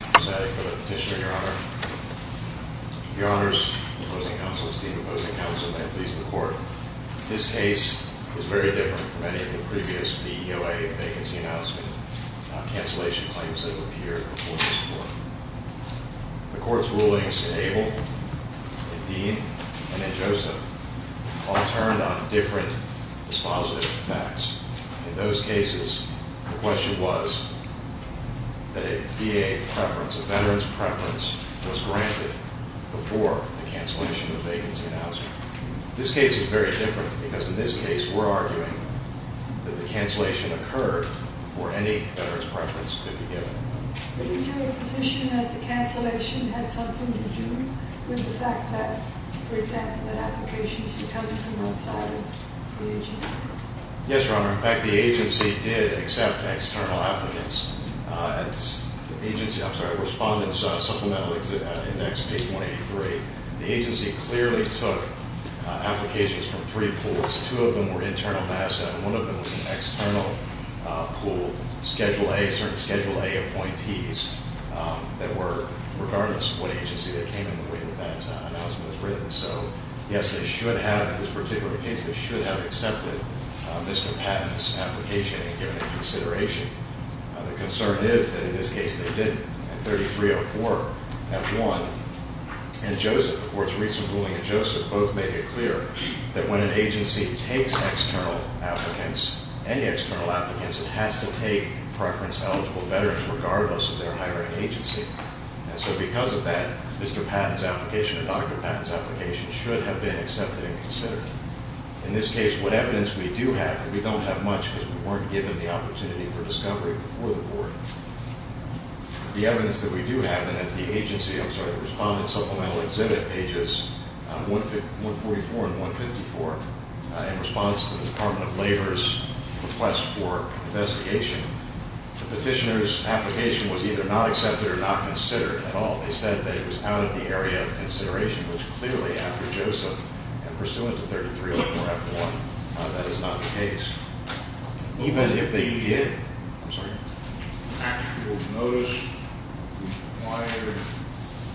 Thank you, Mr. President, for the petitioner, Your Honor. Your Honors, opposing counsels, team opposing counsel, may I please the Court. This case is very different from any of the previous VEOA vacancy announcements. Cancellation claims have appeared before this Court. The Court's rulings in Abel, in Dean, and in Joseph all turned on different dispositive facts. In those cases, the question was that a VA preference, a veteran's preference, was granted before the cancellation of the vacancy announcement. This case is very different because in this case we're arguing that the cancellation occurred before any veteran's preference could be given. But is your position that the cancellation had something to do with the fact that, for example, that applications were coming from outside of the agency? Yes, Your Honor. In fact, the agency did accept external applicants. It's the agency, I'm sorry, Respondents Supplemental Index, page 183. The agency clearly took applications from three pools. Two of them were internal NASA and one of them was an external pool, Schedule A, certain Schedule A appointees that were, regardless of what agency, that came in the way that that announcement was written. And so, yes, they should have, in this particular case, they should have accepted Mr. Patton's application and given it consideration. The concern is that in this case they didn't. At 3304, that won. And Joseph, the Court's recent ruling in Joseph, both make it clear that when an agency takes external applicants, any external applicants, it has to take preference-eligible veterans regardless of their hiring agency. And so because of that, Mr. Patton's application and Dr. Patton's application should have been accepted and considered. In this case, what evidence we do have, and we don't have much because we weren't given the opportunity for discovery before the Court, the evidence that we do have and that the agency, I'm sorry, Respondents Supplemental Exhibit, pages 144 and 154, in response to the Department of Labor's request for investigation, the petitioner's application was either not accepted or not considered at all. They said that it was out of the area of consideration, which clearly, after Joseph and pursuant to 3304F1, that is not the case. Even if they did, I'm sorry, actual notice required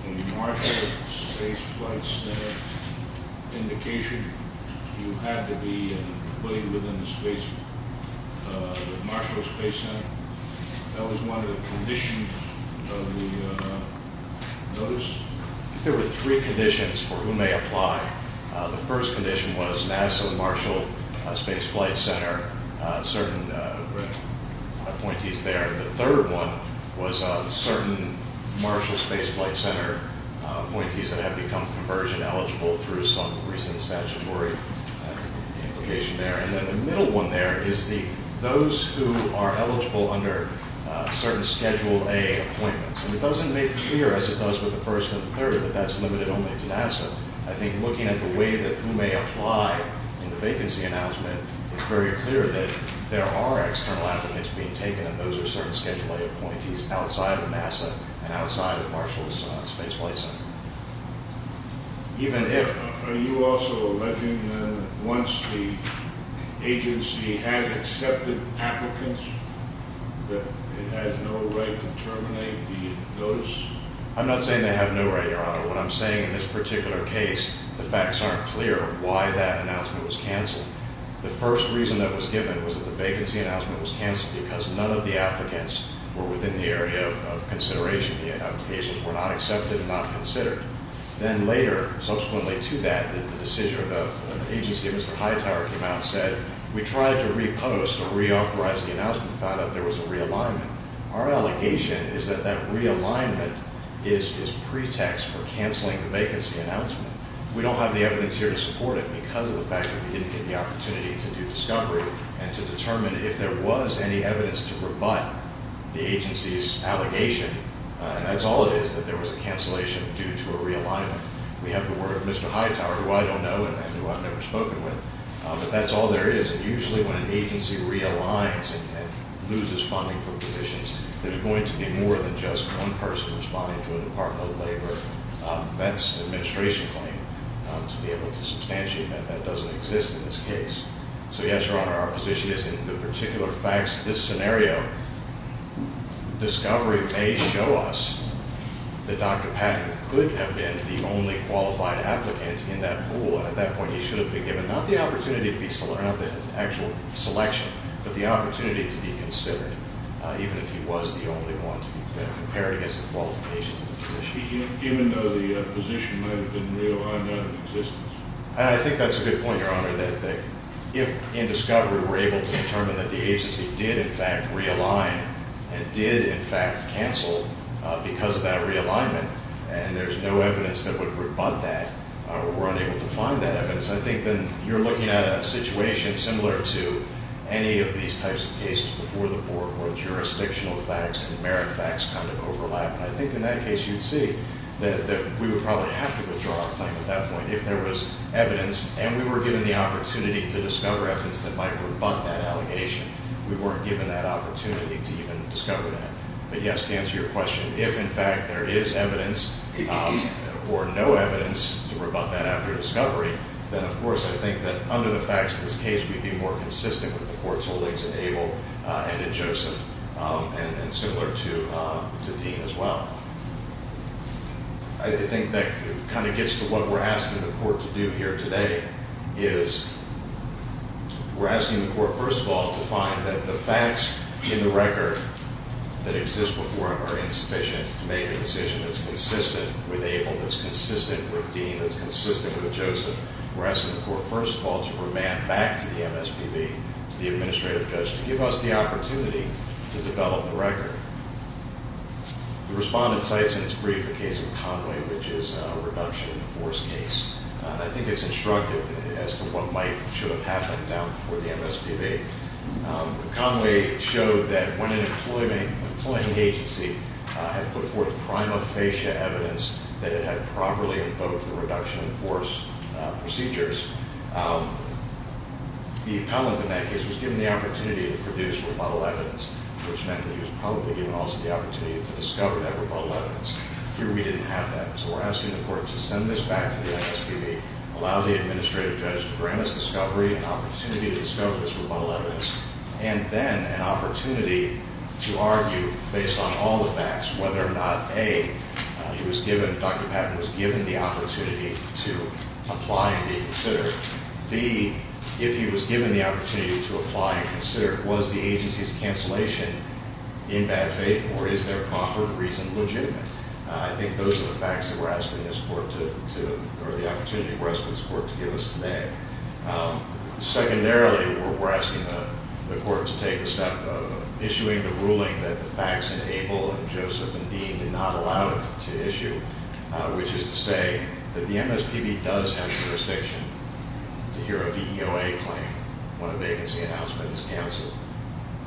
in the Marshall Space Flight Center indication, you had to be within the space, the Marshall Space Center. That was one of the conditions of the notice. There were three conditions for whom they apply. The first condition was NASA and Marshall Space Flight Center, certain appointees there. The third one was certain Marshall Space Flight Center appointees that have become conversion eligible through some recent statutory implication there. And then the middle one there is those who are eligible under certain Schedule A appointments. And it doesn't make clear, as it does with the first and the third, that that's limited only to NASA. I think looking at the way that who may apply in the vacancy announcement, it's very clear that there are external applicants being taken, and those are certain Schedule A appointees outside of NASA and outside of Marshall Space Flight Center. Even if... Are you also alleging that once the agency has accepted applicants, that it has no right to terminate the notice? I'm not saying they have no right, Your Honor. What I'm saying in this particular case, the facts aren't clear why that announcement was canceled. The first reason that was given was that the vacancy announcement was canceled because none of the applicants were within the area of consideration. The applications were not accepted and not considered. Then later, subsequently to that, the decision of the agency, Mr. Hightower came out and said, we tried to repost or reauthorize the announcement and found out there was a realignment. Our allegation is that that realignment is pretext for canceling the vacancy announcement. We don't have the evidence here to support it because of the fact that we didn't get the opportunity to do discovery and to determine if there was any evidence to rebut the agency's allegation. That's all it is, that there was a cancellation due to a realignment. We have the word Mr. Hightower, who I don't know and who I've never spoken with, but that's all there is. And usually when an agency realigns and loses funding for positions, there's going to be more than just one person responding to a Department of Labor vet's administration claim to be able to substantiate that that doesn't exist in this case. So yes, Your Honor, our position is in the particular facts of this scenario, discovery may show us that Dr. Patton could have been the only qualified applicant in that pool. At that point, he should have been given not the opportunity to be selected, not the actual selection, but the opportunity to be considered even if he was the only one to be compared against the qualifications of the position. Even though the position might have been realigned out of existence? I think that's a good point, Your Honor, that if in discovery we're able to determine that the agency did in fact realign and did in fact cancel because of that realignment and there's no evidence that would rebut that, we're unable to find that evidence. I think then you're looking at a situation similar to any of these types of cases before the board where jurisdictional facts and merit facts kind of overlap. And I think in that case you'd see that we would probably have to withdraw our claim at that point if there was evidence and we were given the opportunity to discover evidence that might rebut that allegation. We weren't given that opportunity to even discover that. But yes, to answer your question, if in fact there is evidence or no evidence to rebut that after discovery, then of course I think that under the facts of this case we'd be more consistent with the court's holdings in Abel and in Joseph and similar to Dean as well. I think that kind of gets to what we're asking the court to do here today is we're asking the court, first of all, to find that the facts in the record that exist before it are insufficient to make a decision that's consistent with Abel, that's consistent with Dean, that's consistent with Joseph. We're asking the court, first of all, to remand back to the MSPB, to the administrative judge, to give us the opportunity to develop the record. The respondent cites in its brief the case of Conway, which is a reduction in the force case. I think it's instructive as to what might or should have happened down before the MSPB. Conway showed that when an employing agency had put forth prima facie evidence that it had properly invoked the reduction in force procedures, the appellant in that case was given the opportunity to produce rebuttal evidence, which meant that he was probably given also the opportunity to discover that rebuttal evidence. Here we didn't have that. So we're asking the court to send this back to the MSPB, allow the administrative judge to grant us discovery and opportunity to discover this rebuttal evidence, and then an opportunity to argue, based on all the facts, whether or not A, he was given, Dr. Patton was given the opportunity to apply and be considered. B, if he was given the opportunity to apply and be considered, was the agency's cancellation in bad faith or is their proffered reason legitimate? I think those are the facts that we're asking this court to, or the opportunity we're asking this court to give us today. Secondarily, we're asking the court to take the step of issuing the ruling that the facts enable and Joseph and Dean did not allow it to issue, which is to say that the MSPB does have jurisdiction to hear a VEOA claim when a vacancy announcement is canceled,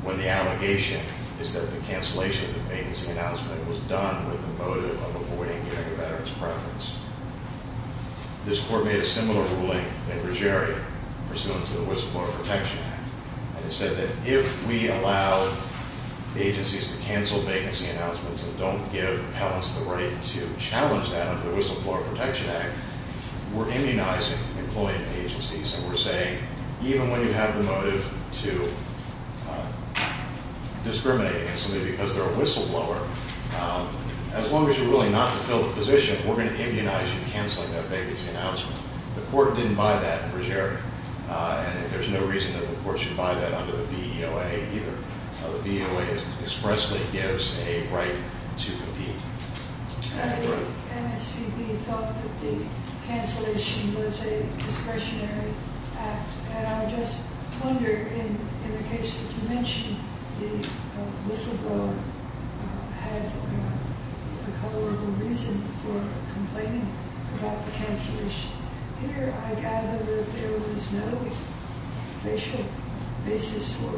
when the allegation is that the cancellation of the vacancy announcement was done with the motive of avoiding hearing a veteran's preference. This court made a similar ruling in Brugere, pursuant to the Whistleblower Protection Act, and it said that if we allow agencies to cancel vacancy announcements and don't give appellants the right to challenge that under the Whistleblower Protection Act, we're immunizing employing agencies and we're saying even when you have the motive to discriminate against somebody because they're a whistleblower, as long as you're willing not to fill the position, we're going to immunize you canceling that vacancy announcement. The court didn't buy that in Brugere, and there's no reason that the court should buy that under the VEOA either. The VEOA expressly gives a right to compete. MSPB thought that the cancellation was a discretionary act. And I just wonder, in the case that you mentioned, the whistleblower had the color of a reason for complaining about the cancellation. Here, I gather that there was no facial basis for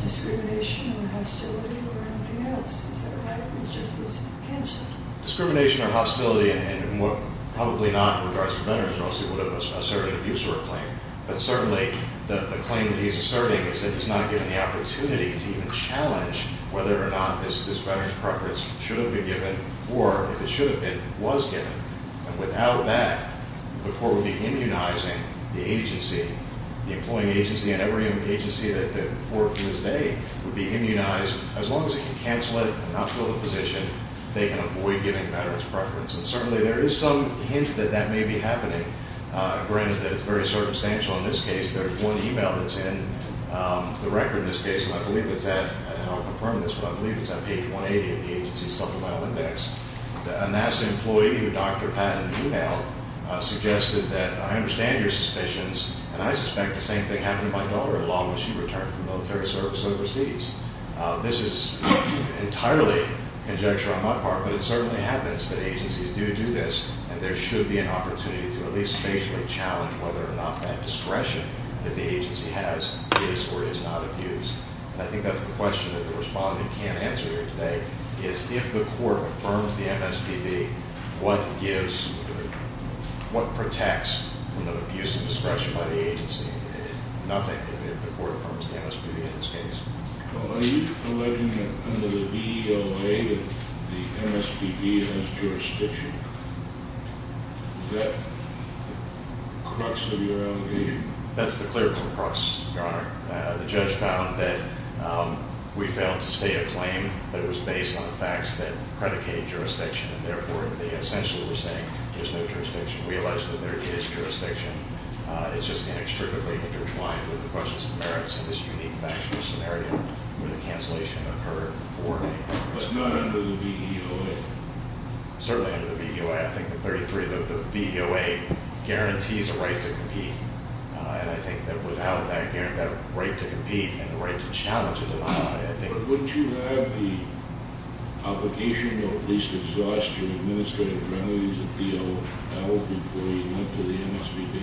discrimination or hostility or anything else. Is that right? It just was cancelled? Discrimination or hostility, and probably not with regards to veterans, or else he would have asserted an abuser claim. But certainly, the claim that he's asserting is that he's not given the opportunity to even challenge whether or not this veteran's preference should have been given, or if it should have been, was given. And without that, the court would be immunizing the agency. The employing agency and every agency that the employer flew his day would be immunized. As long as he can cancel it and not fill the position, they can avoid giving veterans preference. And certainly, there is some hint that that may be happening, granted that it's very circumstantial in this case. There's one email that's in the record in this case, and I believe it's at – I don't know how to confirm this, but I believe it's on page 180 of the agency's supplemental index. A NASA employee with Dr. Patton's email suggested that, I understand your suspicions, and I suspect the same thing happened to my daughter-in-law when she returned from military service overseas. This is entirely conjecture on my part, but it certainly happens that agencies do do this, and there should be an opportunity to at least spatially challenge whether or not that discretion that the agency has is or is not abused. And I think that's the question that the respondent can't answer here today, is if the court affirms the MSPB, what gives – what protects from the abuse of discretion by the agency? Nothing, if the court affirms the MSPB in this case. Well, are you alleging that under the BEOA that the MSPB has jurisdiction? Is that the crux of your allegation? That's the clerical crux, Your Honor. The judge found that we failed to state a claim that was based on facts that predicate jurisdiction, and therefore they essentially were saying there's no jurisdiction. We realize that there is jurisdiction. It's just inextricably intertwined with the questions of merits in this unique factual scenario where the cancellation occurred for me. That's not under the BEOA. Certainly under the BEOA. I think the 33 – the BEOA guarantees a right to compete, and I think that without that right to compete and the right to challenge it, I think – But wouldn't you have the obligation or at least exhaust your administrative remedies at BEOL before you went to the MSPB?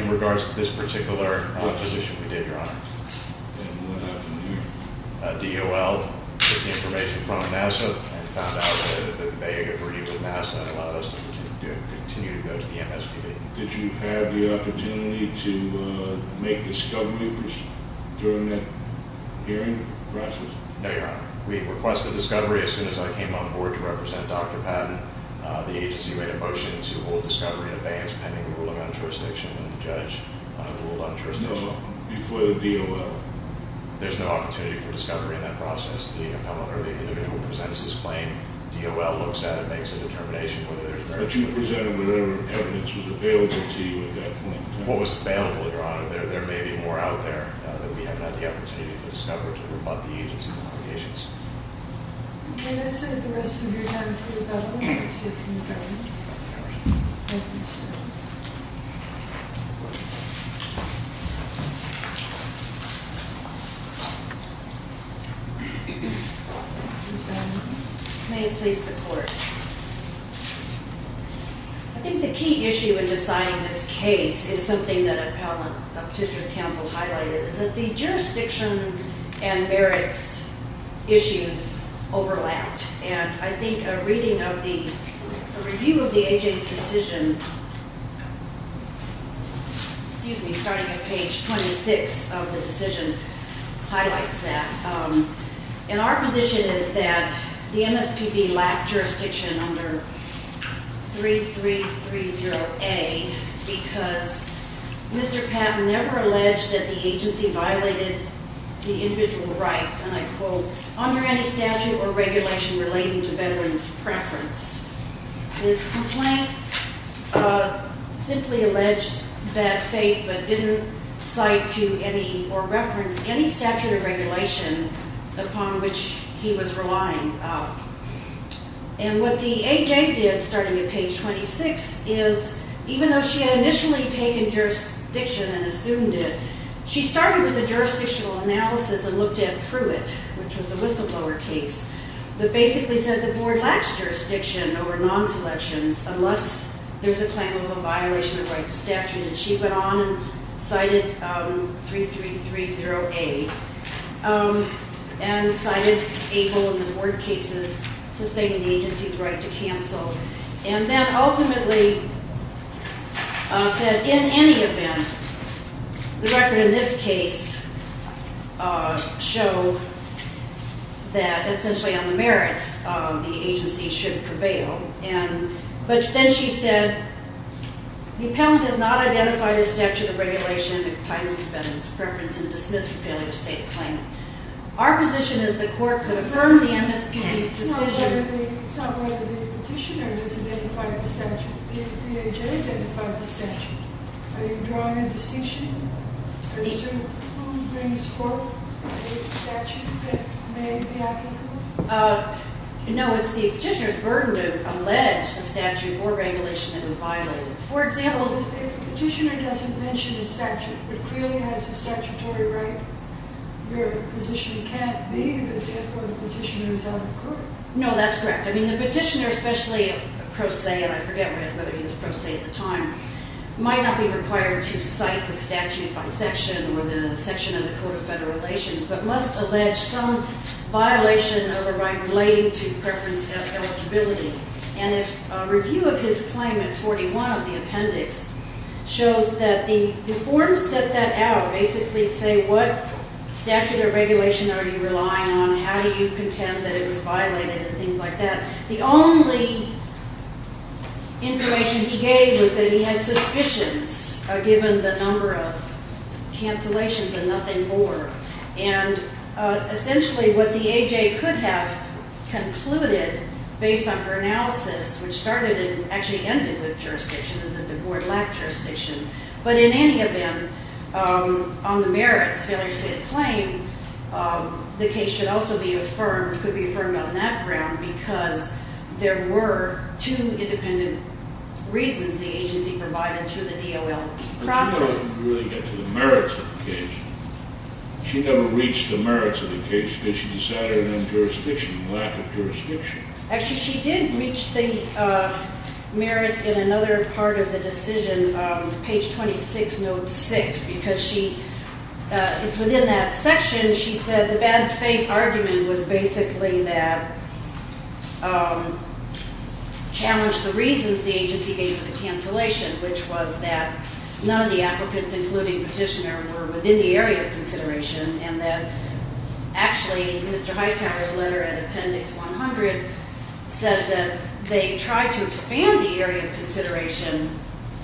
In regards to this particular position we did, Your Honor. And what happened there? BEOL took the information from NASA and found out that they agreed with NASA and allowed us to continue to go to the MSPB. Did you have the opportunity to make discovery during that hearing process? No, Your Honor. We requested discovery as soon as I came on board to represent Dr. Patton. The agency made a motion to hold discovery in advance pending ruling on jurisdiction and the judge ruled on jurisdiction. No, before the BEOL. There's no opportunity for discovery in that process. The individual presents his claim. But you presented whatever evidence was available to you at that point. What was available, Your Honor? There may be more out there that we haven't had the opportunity to discover to rebut the agency's obligations. Okay. That's it. The rest of you are done for the BEOL. That's good. Thank you. Thank you, sir. May it please the Court. I think the key issue in deciding this case is something that Appellant of Tister's counsel highlighted. It's that the jurisdiction and Barrett's issues overlapped. And I think a reading of the review of the agency's decision, starting at page 26 of the decision, highlights that. And our position is that the MSPB lacked jurisdiction under 3330A because Mr. Patton never alleged that the agency violated the individual rights. And I quote, under any statute or regulation relating to veterans' preference. This complaint simply alleged bad faith but didn't cite to any or reference any statute or regulation upon which he was relying. And what the A.J. did, starting at page 26, is even though she had initially taken jurisdiction and assumed it, she started with a jurisdictional analysis and looked at Pruitt, which was a whistleblower case, that basically said the Board lacks jurisdiction over non-selections unless there's a claim of a violation of the right to statute. And she went on and cited 3330A and cited able in the board cases sustaining the agency's right to cancel. And then ultimately said, in any event, the record in this case show that essentially on the merits, the agency should prevail. But then she said, the appellant has not identified a statute or regulation entitling veterans' preference and dismissed the failure to state a claim. Our position is the court could affirm the MSPB's decision... It's not whether the petitioner has identified the statute. The A.J. identified the statute. Are you drawing a distinction as to who brings forth a statute that may be applicable? No, it's the petitioner's burden to allege a statute or regulation that was violated. If a petitioner doesn't mention a statute but clearly has a statutory right, your position can't be that therefore the petitioner is out of court. No, that's correct. I mean, the petitioner, especially a pro se, and I forget whether he was pro se at the time, might not be required to cite the statute by section or the section of the Code of Federal Relations, but must allege some violation of a right relating to preference eligibility. And a review of his claim in 41 of the appendix shows that the form set that out, basically say what statute or regulation are you relying on, how do you contend that it was violated, and things like that. The only information he gave was that he had suspicions, given the number of cancellations and nothing more. And essentially what the AJ could have concluded based on her analysis, which started and actually ended with jurisdiction is that the board lacked jurisdiction. But in any event, on the merits, failure to state a claim, the case should also be affirmed, could be affirmed on that ground because there were two independent reasons the agency provided to the DOL process. But that doesn't really get to the merits of the case. She never reached the merits of the case because she decided on jurisdiction, lack of jurisdiction. Actually, she did reach the merits in another part of the decision, page 26, note 6, because she, it's within that section, she said the bad faith argument was basically that, challenged the reasons the agency gave for the cancellation, which was that none of the applicants, including Petitioner, were within the area of consideration, and that actually Mr. Hightower's letter at appendix 100 said that they tried to expand the area of consideration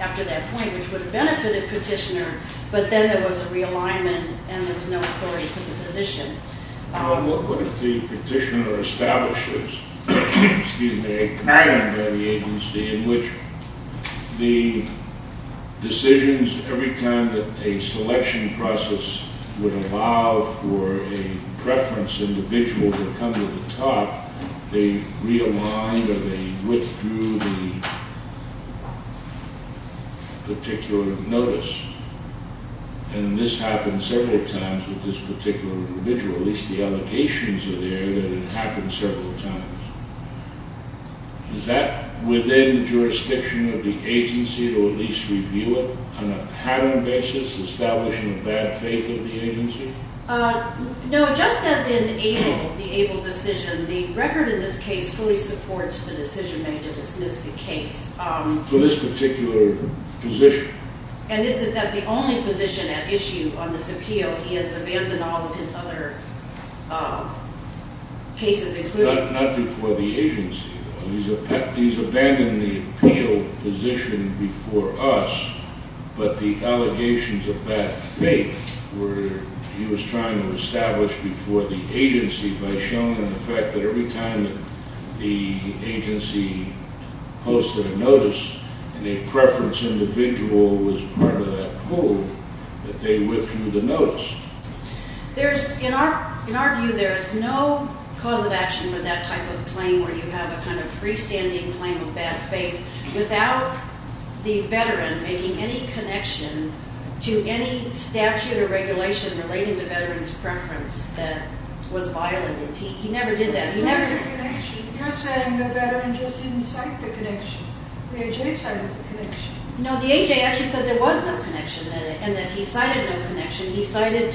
after that point, which would have benefited Petitioner, but then there was a realignment, and there was no authority for the position. What if the Petitioner establishes, excuse me, a pattern by the agency in which the decisions, every time that a selection process would allow for a preference individual to come to the top, they realigned or they withdrew the particular notice? And this happened several times with this particular individual. At least the allocations are there that it happened several times. Is that within the jurisdiction of the agency to at least review it on a pattern basis, establishing a bad faith of the agency? No, just as in ABLE, the ABLE decision, the record in this case fully supports the decision made to dismiss the case. For this particular position? And that's the only position at issue on this appeal. He has abandoned all of his other cases, including… Not before the agency. He's abandoned the appeal position before us, but the allegations of bad faith were he was trying to establish before the agency by showing them the fact that every time the agency posted a notice and a preference individual was part of that poll, that they withdrew the notice. In our view, there is no cause of action for that type of claim where you have a kind of freestanding claim of bad faith without the veteran making any connection to any statute or regulation relating to veterans' preference that was violated. He never did that. He never… Because the veteran just didn't cite the connection. The AJ cited the connection. No, the AJ actually said there was no connection and that he cited no connection. He cited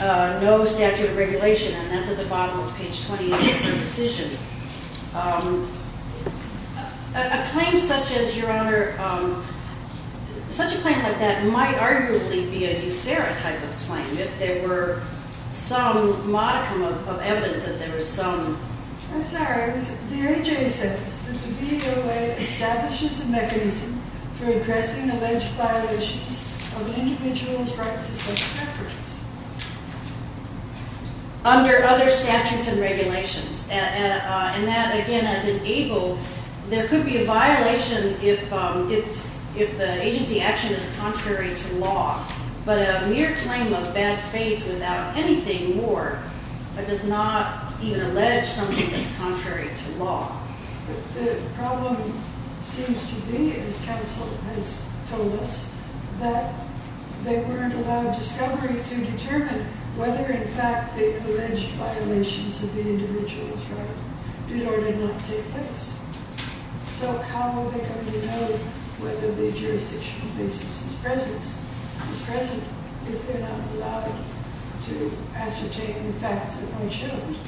no statute of regulation, and that's at the bottom of page 28 of the decision. A claim such as, Your Honor, such a claim like that might arguably be a USARA type of claim if there were some modicum of evidence that there was some… I'm sorry. The AJ says that the VOA establishes a mechanism for addressing alleged violations of an individual's right to self-preference. Under other statutes and regulations. And that, again, has enabled… There could be a violation if the agency action is contrary to law, but a mere claim of bad faith without anything more but does not even allege something that's contrary to law. The problem seems to be, as counsel has told us, that they weren't allowed discovery to determine whether, in fact, the alleged violations of the individual's right did or did not take place. So how will they come to know whether the jurisdictional basis is present if they're not allowed to ascertain the facts that they shouldn't?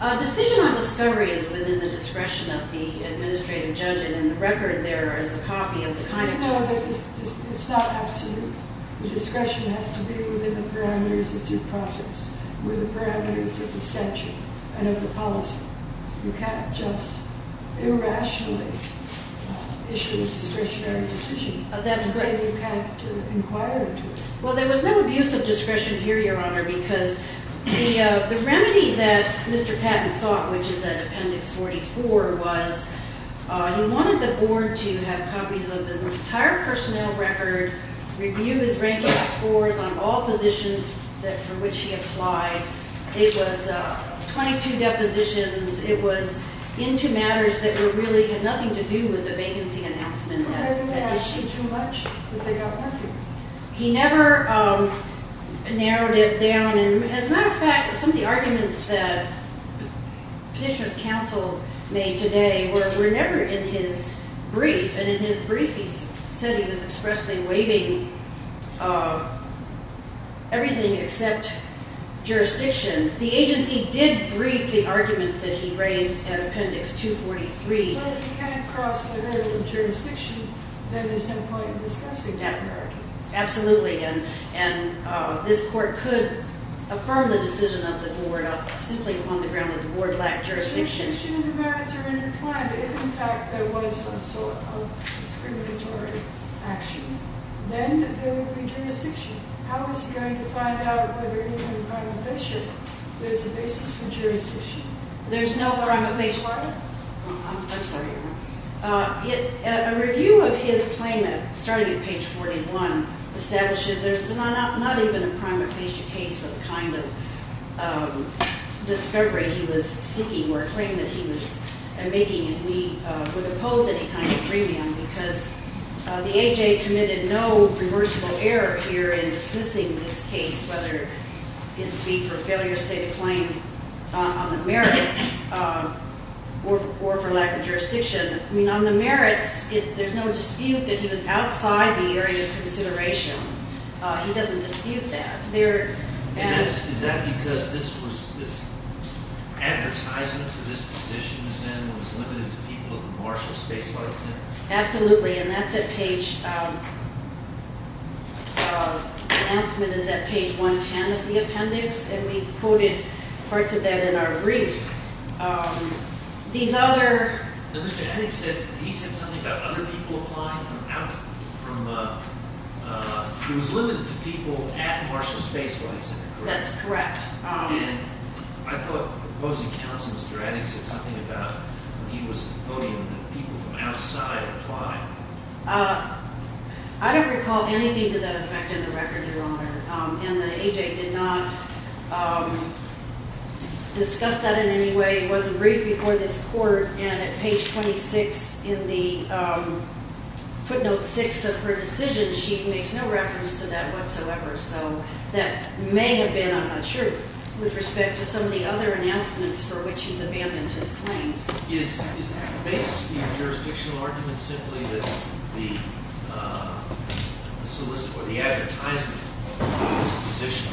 A decision on discovery is within the discretion of the administrative judge, and in the record there is a copy of the kind of… No, it's not absolute. The discretion has to be within the parameters of due process, within the parameters of the statute and of the policy. You can't just irrationally issue a discretionary decision… That's correct. You can't inquire into it. Well, there was no abuse of discretion here, Your Honor, because the remedy that Mr. Patton sought, which is at Appendix 44, was he wanted the board to have copies of his entire personnel record, review his ranking scores on all positions for which he applied. It was 22 depositions. It was into matters that really had nothing to do with the vacancy announcement. They didn't ask him too much, but they got nothing. He never narrowed it down. As a matter of fact, some of the arguments that the petitioner of counsel made today were never in his brief, and in his brief he said he was expressly waiving everything except jurisdiction. The agency did brief the arguments that he raised at Appendix 243. But if you can't cross the hurdle of jurisdiction, then there's no point in discussing that. Absolutely, and this court could affirm the decision of the board simply on the ground that the board lacked jurisdiction. If jurisdiction and the merits are intertwined, if, in fact, there was some sort of discriminatory action, then there would be jurisdiction. How is he going to find out whether even in primification there's a basis for jurisdiction? There's no primification. I'm sorry. A review of his claim, starting at page 41, establishes there's not even a primification case for the kind of discovery he was seeking or a claim that he was making. We wouldn't pose any kind of premium because the AHA committed no reversible error here in dismissing this case, whether it be for failure to state a claim on the merits or for lack of jurisdiction. I mean, on the merits, there's no dispute that he was outside the area of consideration. He doesn't dispute that. Is that because this advertisement for this position was then what was limited to people at the Marshall Space Flight Center? Absolutely, and that's at page... The announcement is at page 110 of the appendix, and we quoted parts of that in our brief. These other... Now, Mr. Haddix said... He said something about other people applying from out... From... He was limited to people at Marshall Space Flight Center, correct? That's correct. And I thought the opposing counsel, Mr. Haddix, said something about he was voting that people from outside apply. I don't recall anything to that effect in the record, Your Honor, and the AHA did not discuss that in any way. It wasn't briefed before this court, and at page 26 in the footnote 6 of her decision, she makes no reference to that whatsoever. So that may have been, I'm not sure, with respect to some of the other announcements for which he's abandoned his claims. Is the basis of your jurisdictional argument simply that the solicit or the advertisement for this position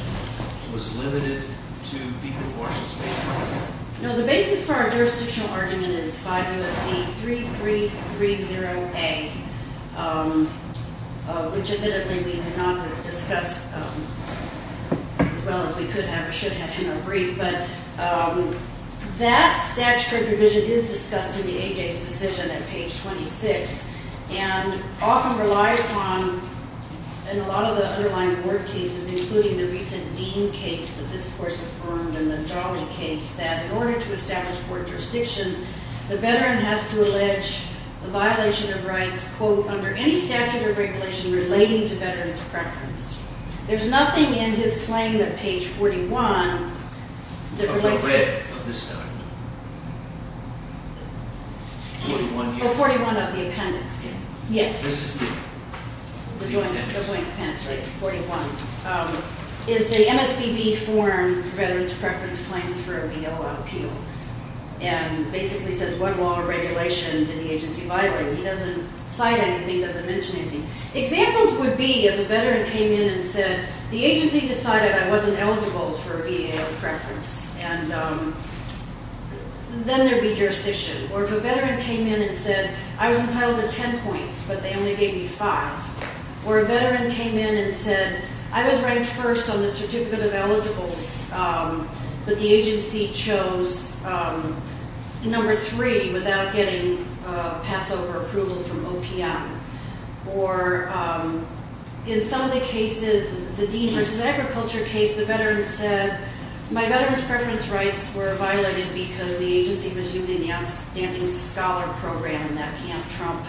was limited to people at Marshall Space Flight Center? No, the basis for our jurisdictional argument is 5 U.S.C. 3330A, which admittedly we did not discuss as well as we could have or should have in our brief, but that statutory provision is discussed in the AHA's decision at page 26 and often relied upon in a lot of the underlying court cases, including the recent Dean case that this court's affirmed and the Jolly case, that in order to establish court jurisdiction, the veteran has to allege the violation of rights, quote, under any statute or regulation relating to veterans' preference. There's nothing in his claim at page 41 that relates to that. Of this document? 41 of the appendix, yes. This is new. The joint appendix, right, 41, is the MSBB form for veterans' preference claims for a VO out appeal. And basically says what law or regulation did the agency violate? He doesn't cite anything. He doesn't mention anything. Examples would be if a veteran came in and said, the agency decided I wasn't eligible for a VA out of preference, and then there'd be jurisdiction. Or if a veteran came in and said, I was entitled to 10 points, but they only gave me 5. Or a veteran came in and said, I was ranked first on the certificate of eligibles, but the agency chose number 3 without getting Passover approval from OPM. Or in some of the cases, the Dean versus Agriculture case, the veteran said, my veteran's preference rights were violated because the agency was using the Outstanding Scholar Program and that can't trump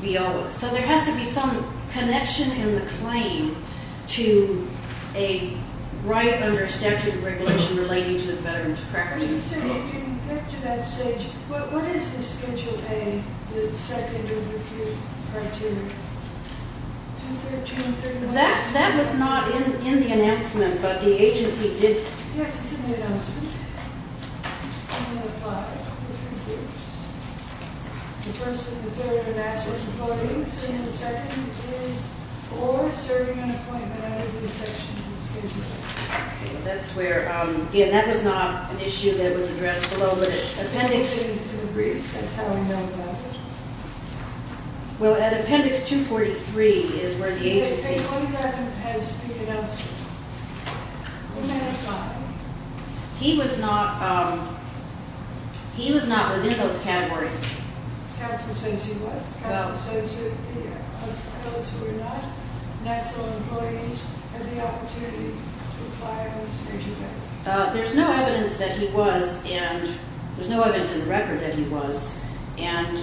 VO. So there has to be some connection in the claim to a right under statute of regulation relating to a veteran's preference. Let me say, getting back to that stage, what is the Schedule A, the second review criteria? June 30th? That was not in the announcement, but the agency did. Yes, it's in the announcement. The first and the third are national reporting. The first and the second is or serving on appointment out of the sections of the Schedule A. That's where, again, that was not an issue that was addressed below, but appendix- It's in the briefs. That's how I know about it. Well, at appendix 243 is where the agency- They say only that has been announced. In that file. He was not, he was not within those categories. Counsel says he was. Counsel says those who were not national employees had the opportunity to apply on Schedule A. There's no evidence that he was, and there's no evidence in the record that he was, and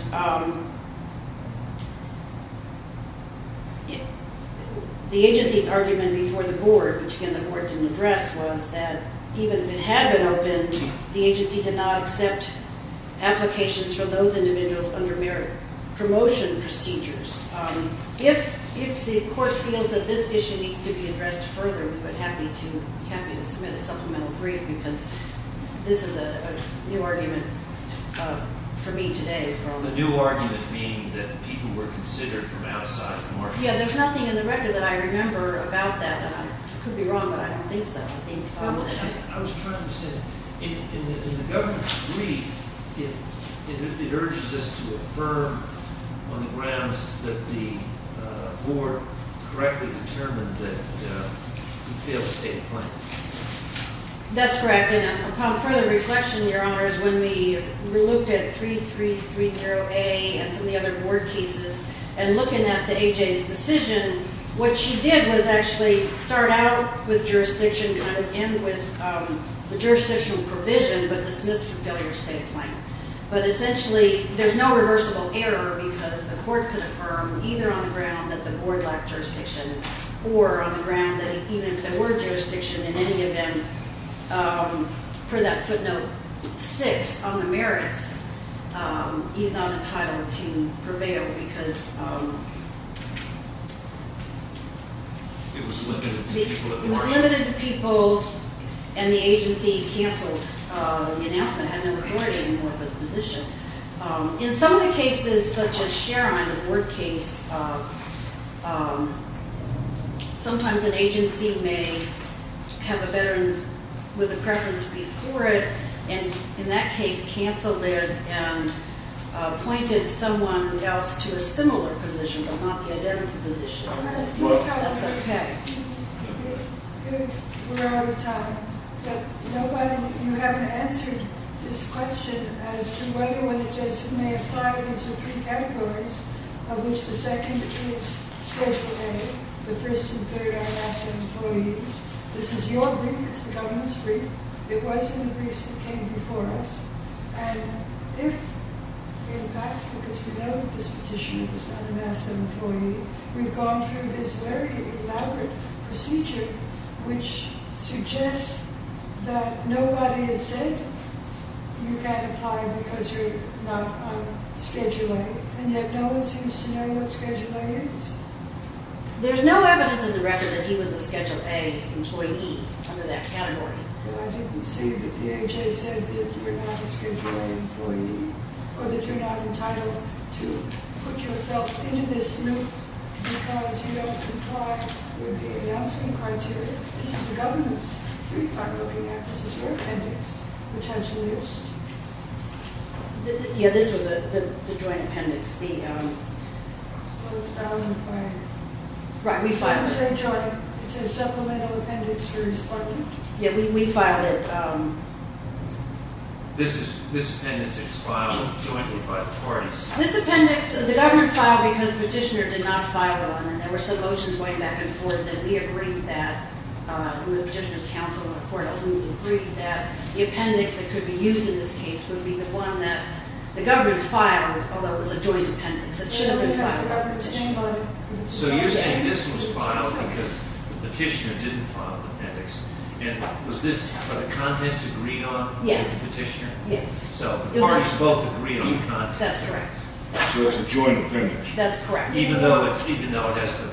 the agency's argument before the board, which, again, the board didn't address, was that even if it had been opened, the agency did not accept applications from those individuals under merit promotion procedures. If the court feels that this issue needs to be addressed further, we would be happy to submit a supplemental brief because this is a new argument for me today. The new argument being that people were considered from outside commercial- Yeah, there's nothing in the record that I remember about that, and I could be wrong, but I don't think so. I was trying to say, in the governor's brief, it urges us to affirm on the grounds that the board correctly determined that we failed to stay in the plan. That's correct, and upon further reflection, Your Honors, when we looked at 3330A and some of the other board cases and looking at the A.J.'s decision, what she did was actually start out with jurisdiction and end with the jurisdictional provision, but dismiss from failure to stay in the plan. But essentially, there's no reversible error because the court could affirm either on the ground that the board lacked jurisdiction or on the ground that even if there were jurisdiction in any event, for that footnote 6 on the merits, he's not entitled to prevail because- It was limited to people at the board. It was limited to people, and the agency canceled the announcement, had no authority anymore for the position. In some of the cases, such as Sheron, the board case, sometimes an agency may have a veteran with a preference before it, and in that case, canceled it and appointed someone else to a similar position but not the identity position. That's okay. We're out of time, but nobody, you haven't answered this question as to whether when it says it may apply against the three categories of which the second appears Schedule A, the first and third are national employees. This is your brief, this is the government's brief. It was in the briefs that came before us, and if, in fact, because we know that this petitioner was not a NASA employee, we've gone through this very elaborate procedure which suggests that nobody has said you can't apply because you're not on Schedule A, and yet no one seems to know what Schedule A is. There's no evidence in the record that he was a Schedule A employee under that category. Well, I didn't see that the AHA said that you're not a Schedule A employee or that you're not entitled to put yourself into this loop because you don't comply with the announcement criteria. This is the government's brief I'm looking at. This is your appendix, which has the list. Yeah, this was the joint appendix, the... Well, it's bound by... Right, we filed... It's a supplemental appendix for his filing. Yeah, we filed it. This appendix expired jointly by the parties. This appendix, the government filed because the petitioner did not file on it. There were some motions going back and forth, and we agreed that, with the petitioner's counsel in the court, we agreed that the appendix that could be used in this case would be the one that the government filed, although it was a joint appendix, it should have been filed. So you're saying this was filed because the petitioner didn't file an appendix. And was this... Are the contents agreed on by the petitioner? Yes. So the parties both agreed on the contents. That's correct. So it's a joint appendix. That's correct. Even though that's the...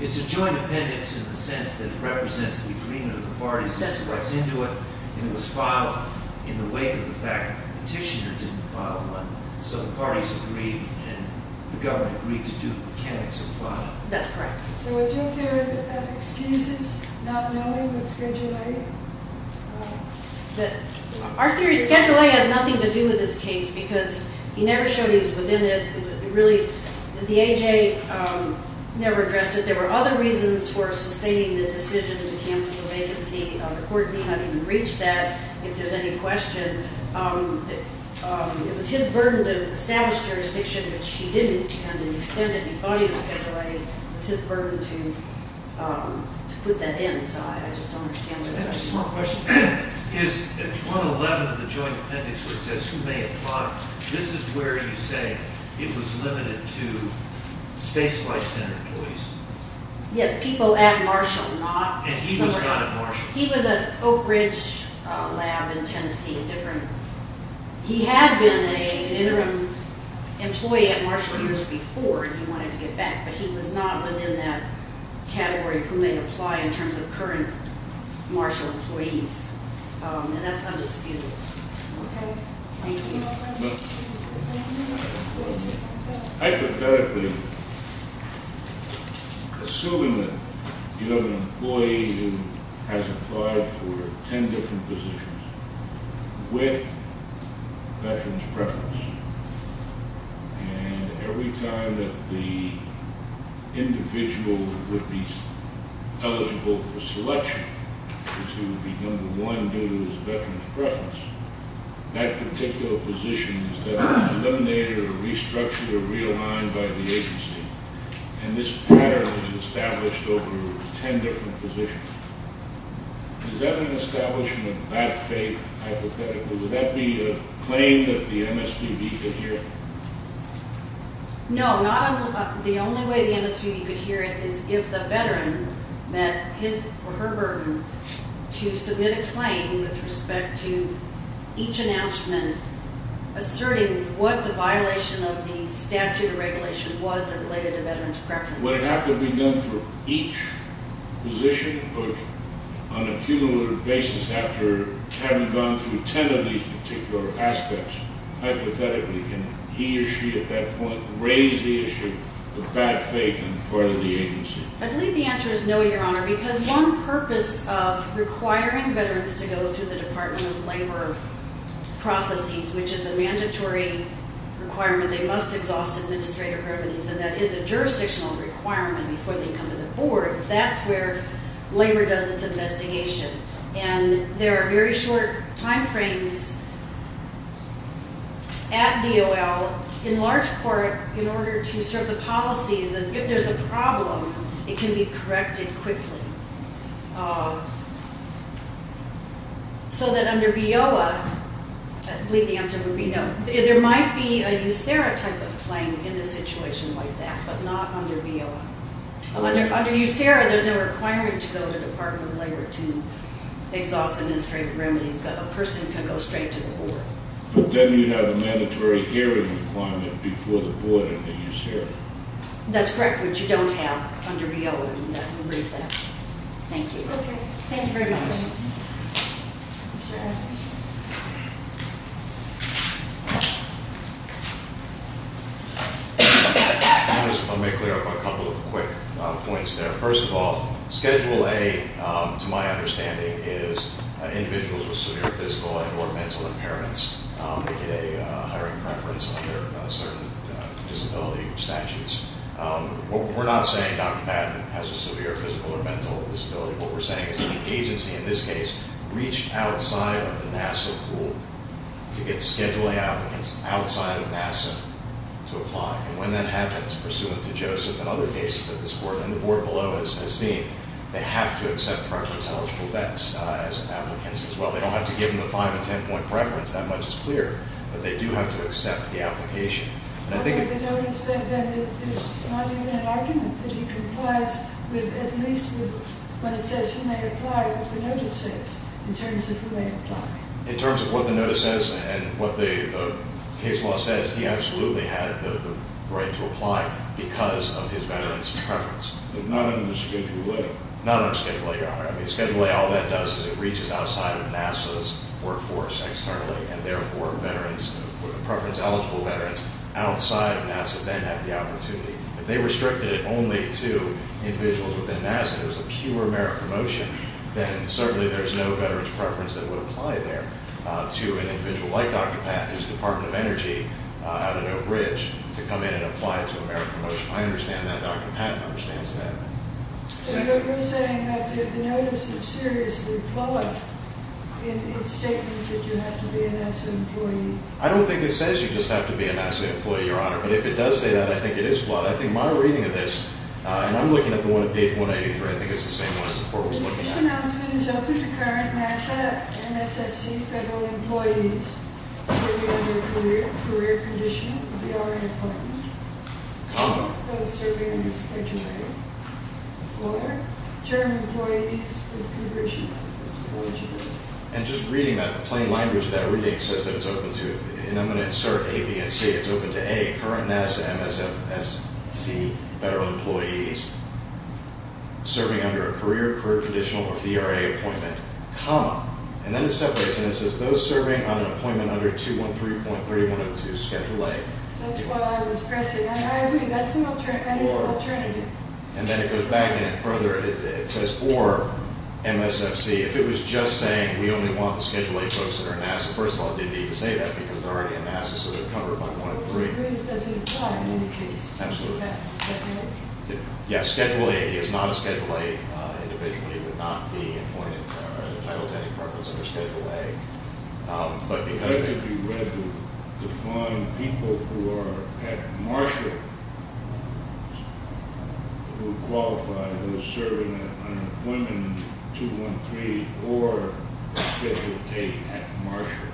It's a joint appendix in the sense that it represents the agreement of the parties as to what's into it, and it was filed in the wake of the fact that the petitioner didn't file one, so the parties agreed and the government agreed to do the mechanics of filing. That's correct. So is your theory that that excuses not knowing of Schedule A? Our theory is Schedule A has nothing to do with this case because he never showed he was within it. It really... The A.J. never addressed it. There were other reasons for sustaining the decision to cancel the vacancy. The court did not even reach that, if there's any question. It was his burden to establish jurisdiction, which he didn't, and the extent of the body of Schedule A was his burden to put that in. So I just don't understand where that comes from. I have just one question. Is 111 of the joint appendix where it says, who may have thought this is where you say it was limited to Space Flight Center employees? Yes, people at Marshall, not... And he was not at Marshall. He was at Oak Ridge Lab in Tennessee, a different... He had been an interim employee at Marshall years before and he wanted to get back, but he was not within that category of who may apply in terms of current Marshall employees. And that's undisputed. Thank you. Well... Hypothetically, assuming that you have an employee who has applied for ten different positions with veterans' preference, and every time that the individual would be eligible for selection, because he would be number one due to his veterans' preference, that particular position is then eliminated or restructured or realigned by the agency. And this pattern is established over ten different positions. Is that an establishment of that faith, hypothetically? Would that be a claim that the MSPB could hear? No, not... The only way the MSPB could hear it is if the veteran met his or her burden to submit a claim with respect to each announcement asserting what the violation of the statute or regulation was that related to veterans' preference. Would it have to be done for each position or on a cumulative basis after having gone through ten of these particular aspects? Hypothetically, can he or she at that point raise the issue of bad faith on the part of the agency? I believe the answer is no, Your Honor, because one purpose of requiring veterans to go through the Department of Labor processes, which is a mandatory requirement, they must exhaust administrative remedies, and that is a jurisdictional requirement before they come to the boards. That's where Labor does its investigation. And there are very short timeframes at DOL, in large part in order to serve the policies as if there's a problem, it can be corrected quickly. So that under VOA, I believe the answer would be no. There might be a USERRA type of claim in a situation like that, but not under VOA. Under USERRA, there's no requirement to go to the Department of Labor to exhaust administrative remedies. A person can go straight to the board. But then you'd have a mandatory hearing requirement before the board and the USERRA. That's correct, which you don't have under VOA. Thank you. Thank you very much. Let me clear up a couple of quick points there. First of all, Schedule A, to my understanding, is individuals with severe physical and or mental impairments. They get a hiring preference under certain disability statutes. We're not saying Dr. Patton has a severe physical or mental disability. What we're saying is the agency, in this case, reached outside of the NASA pool to get Schedule A applicants outside of NASA to apply. And when that happens, pursuant to Joseph and other cases at this board, and the board below has seen, they have to accept preference-eligible vets as applicants as well. They don't have to give them a 5- and 10-point preference. That much is clear. But they do have to accept the application. Okay. The notice then is not even an argument that he complies with, at least with what it says he may apply, what the notice says in terms of who may apply. In terms of what the notice says and what the case law says, he absolutely had the right to apply because of his veterans' preference. But not under Schedule A? Not under Schedule A, Your Honor. I mean, Schedule A, all that does is it reaches outside of NASA's workforce externally, and, therefore, veterans, preference-eligible veterans, outside of NASA then have the opportunity. If they restricted it only to individuals within NASA, it was a pure merit promotion, then certainly there's no veterans' preference that would apply there to an individual like Dr. Patton whose Department of Energy had no bridge to come in and apply to a merit promotion. I understand that. Dr. Patton understands that. So you're saying that the notice is seriously flawed in its statement that you have to be a NASA employee? I don't think it says you just have to be a NASA employee, Your Honor. But if it does say that, I think it is flawed. I think my reading of this, and I'm looking at the one at page 183, I think it's the same one as the court was looking at. This announcement is open to current NASA and SFC federal employees serving under the career condition of the already appointed. Comma. Those serving under Schedule A. Order. German employees with conversion. And just reading that plain language, that reading says that it's open to, and I'm going to insert A, B, and C. It's open to A, current NASA and SFC federal employees serving under a career, career conditional, or VRA appointment. Comma. And then it separates and it says those serving on an appointment under 213.3102 Schedule A. That's what I was pressing. I agree. That's an alternative. And then it goes back in it further. It says, or MSFC. If it was just saying we only want the Schedule A folks that are NASA, first of all, it didn't need to say that because they're already a NASA, so they're covered by one of three. I agree. It doesn't apply in any case. Absolutely. Yeah. Schedule A is not a Schedule A individual. It would not be appointed or entitled to any preference under Schedule A. But that could be read to define people who are at Marshall who qualify who are serving an appointment in 213 or Schedule A at Marshall.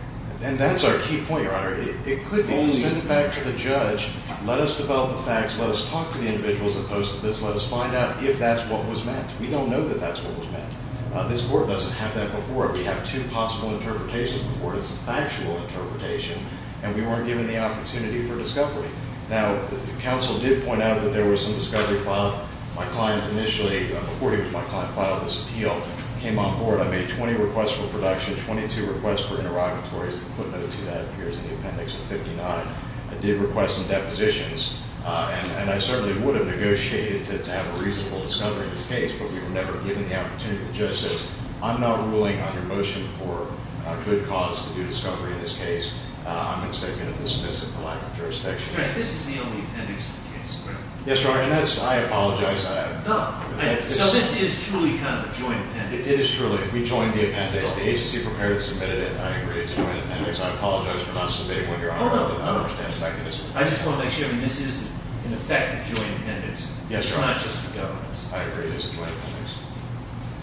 And that's our key point, Your Honor. It could be sent back to the judge, let us develop the facts, let us talk to the individuals that posted this, let us find out if that's what was meant. We don't know that that's what was meant. This Court doesn't have that before. We have two possible interpretations before it. It's a factual interpretation, and we weren't given the opportunity for discovery. Now, the counsel did point out that there was some discovery filed. My client initially, before he was my client, filed this appeal, came on board. I made 20 requests for production, 22 requests for interrogatories. The footnote to that appears in the appendix of 59. I did request some depositions, and I certainly would have negotiated to have a reasonable discovery in this case, but we were never given the opportunity. The judge says, I'm not ruling on your motion for a good cause to do discovery in this case. I'm going to say I'm going to dismiss it for lack of jurisdiction. This is the only appendix in the case, correct? Yes, Your Honor, and I apologize. So this is truly kind of a joint appendix? It is truly. We joined the appendix. The agency prepared and submitted it. I agree it's a joint appendix. I apologize for not submitting one, Your Honor. Hold on. I just want to make sure. This is an effective joint appendix. Yes, Your Honor. It's not just the government's. I agree it is a joint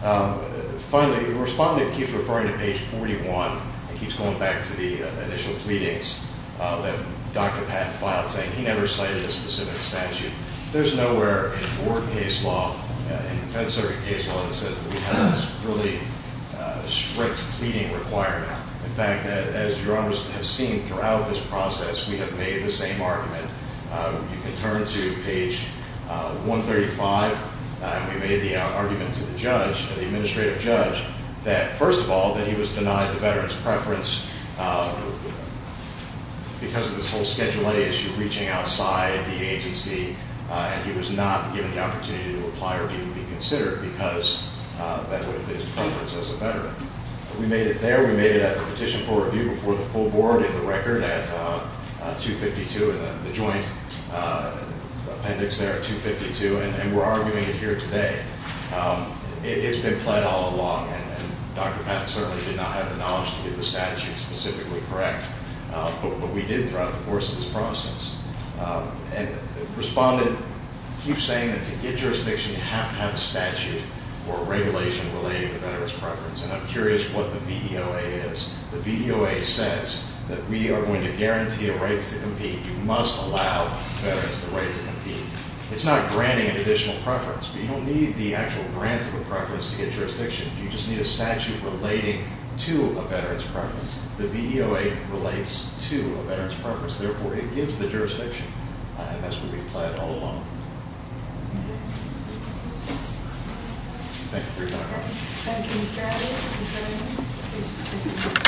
appendix. Finally, the respondent keeps referring to page 41 and keeps going back to the initial pleadings that Dr. Patton filed, saying he never cited a specific statute. There's nowhere in court case law, in fed circuit case law, that says that we have this really strict pleading requirement. In fact, as Your Honors have seen throughout this process, we have made the same argument. You can turn to page 135. We made the argument to the judge, the administrative judge, that, first of all, that he was denied the veteran's preference because of this whole Schedule A issue reaching outside the agency, and he was not given the opportunity to apply or be considered because of his preference as a veteran. We made it there. We made it at the petition for review before the full board in the record at 252, the joint appendix there at 252, and we're arguing it here today. It's been pled all along, and Dr. Patton certainly did not have the knowledge to get the statute specifically correct, but we did throughout the course of this process. And the respondent keeps saying that to get jurisdiction, you have to have a statute or a regulation relating to veteran's preference, and I'm curious what the VEOA is. The VEOA says that we are going to guarantee a right to compete. You must allow veterans the right to compete. It's not granting an additional preference, but you don't need the actual grant of a preference to get jurisdiction. You just need a statute relating to a veteran's preference. The VEOA relates to a veteran's preference. Therefore, it gives the jurisdiction, and that's what we've pled all along. Thank you. Thank you, Mr. Adams.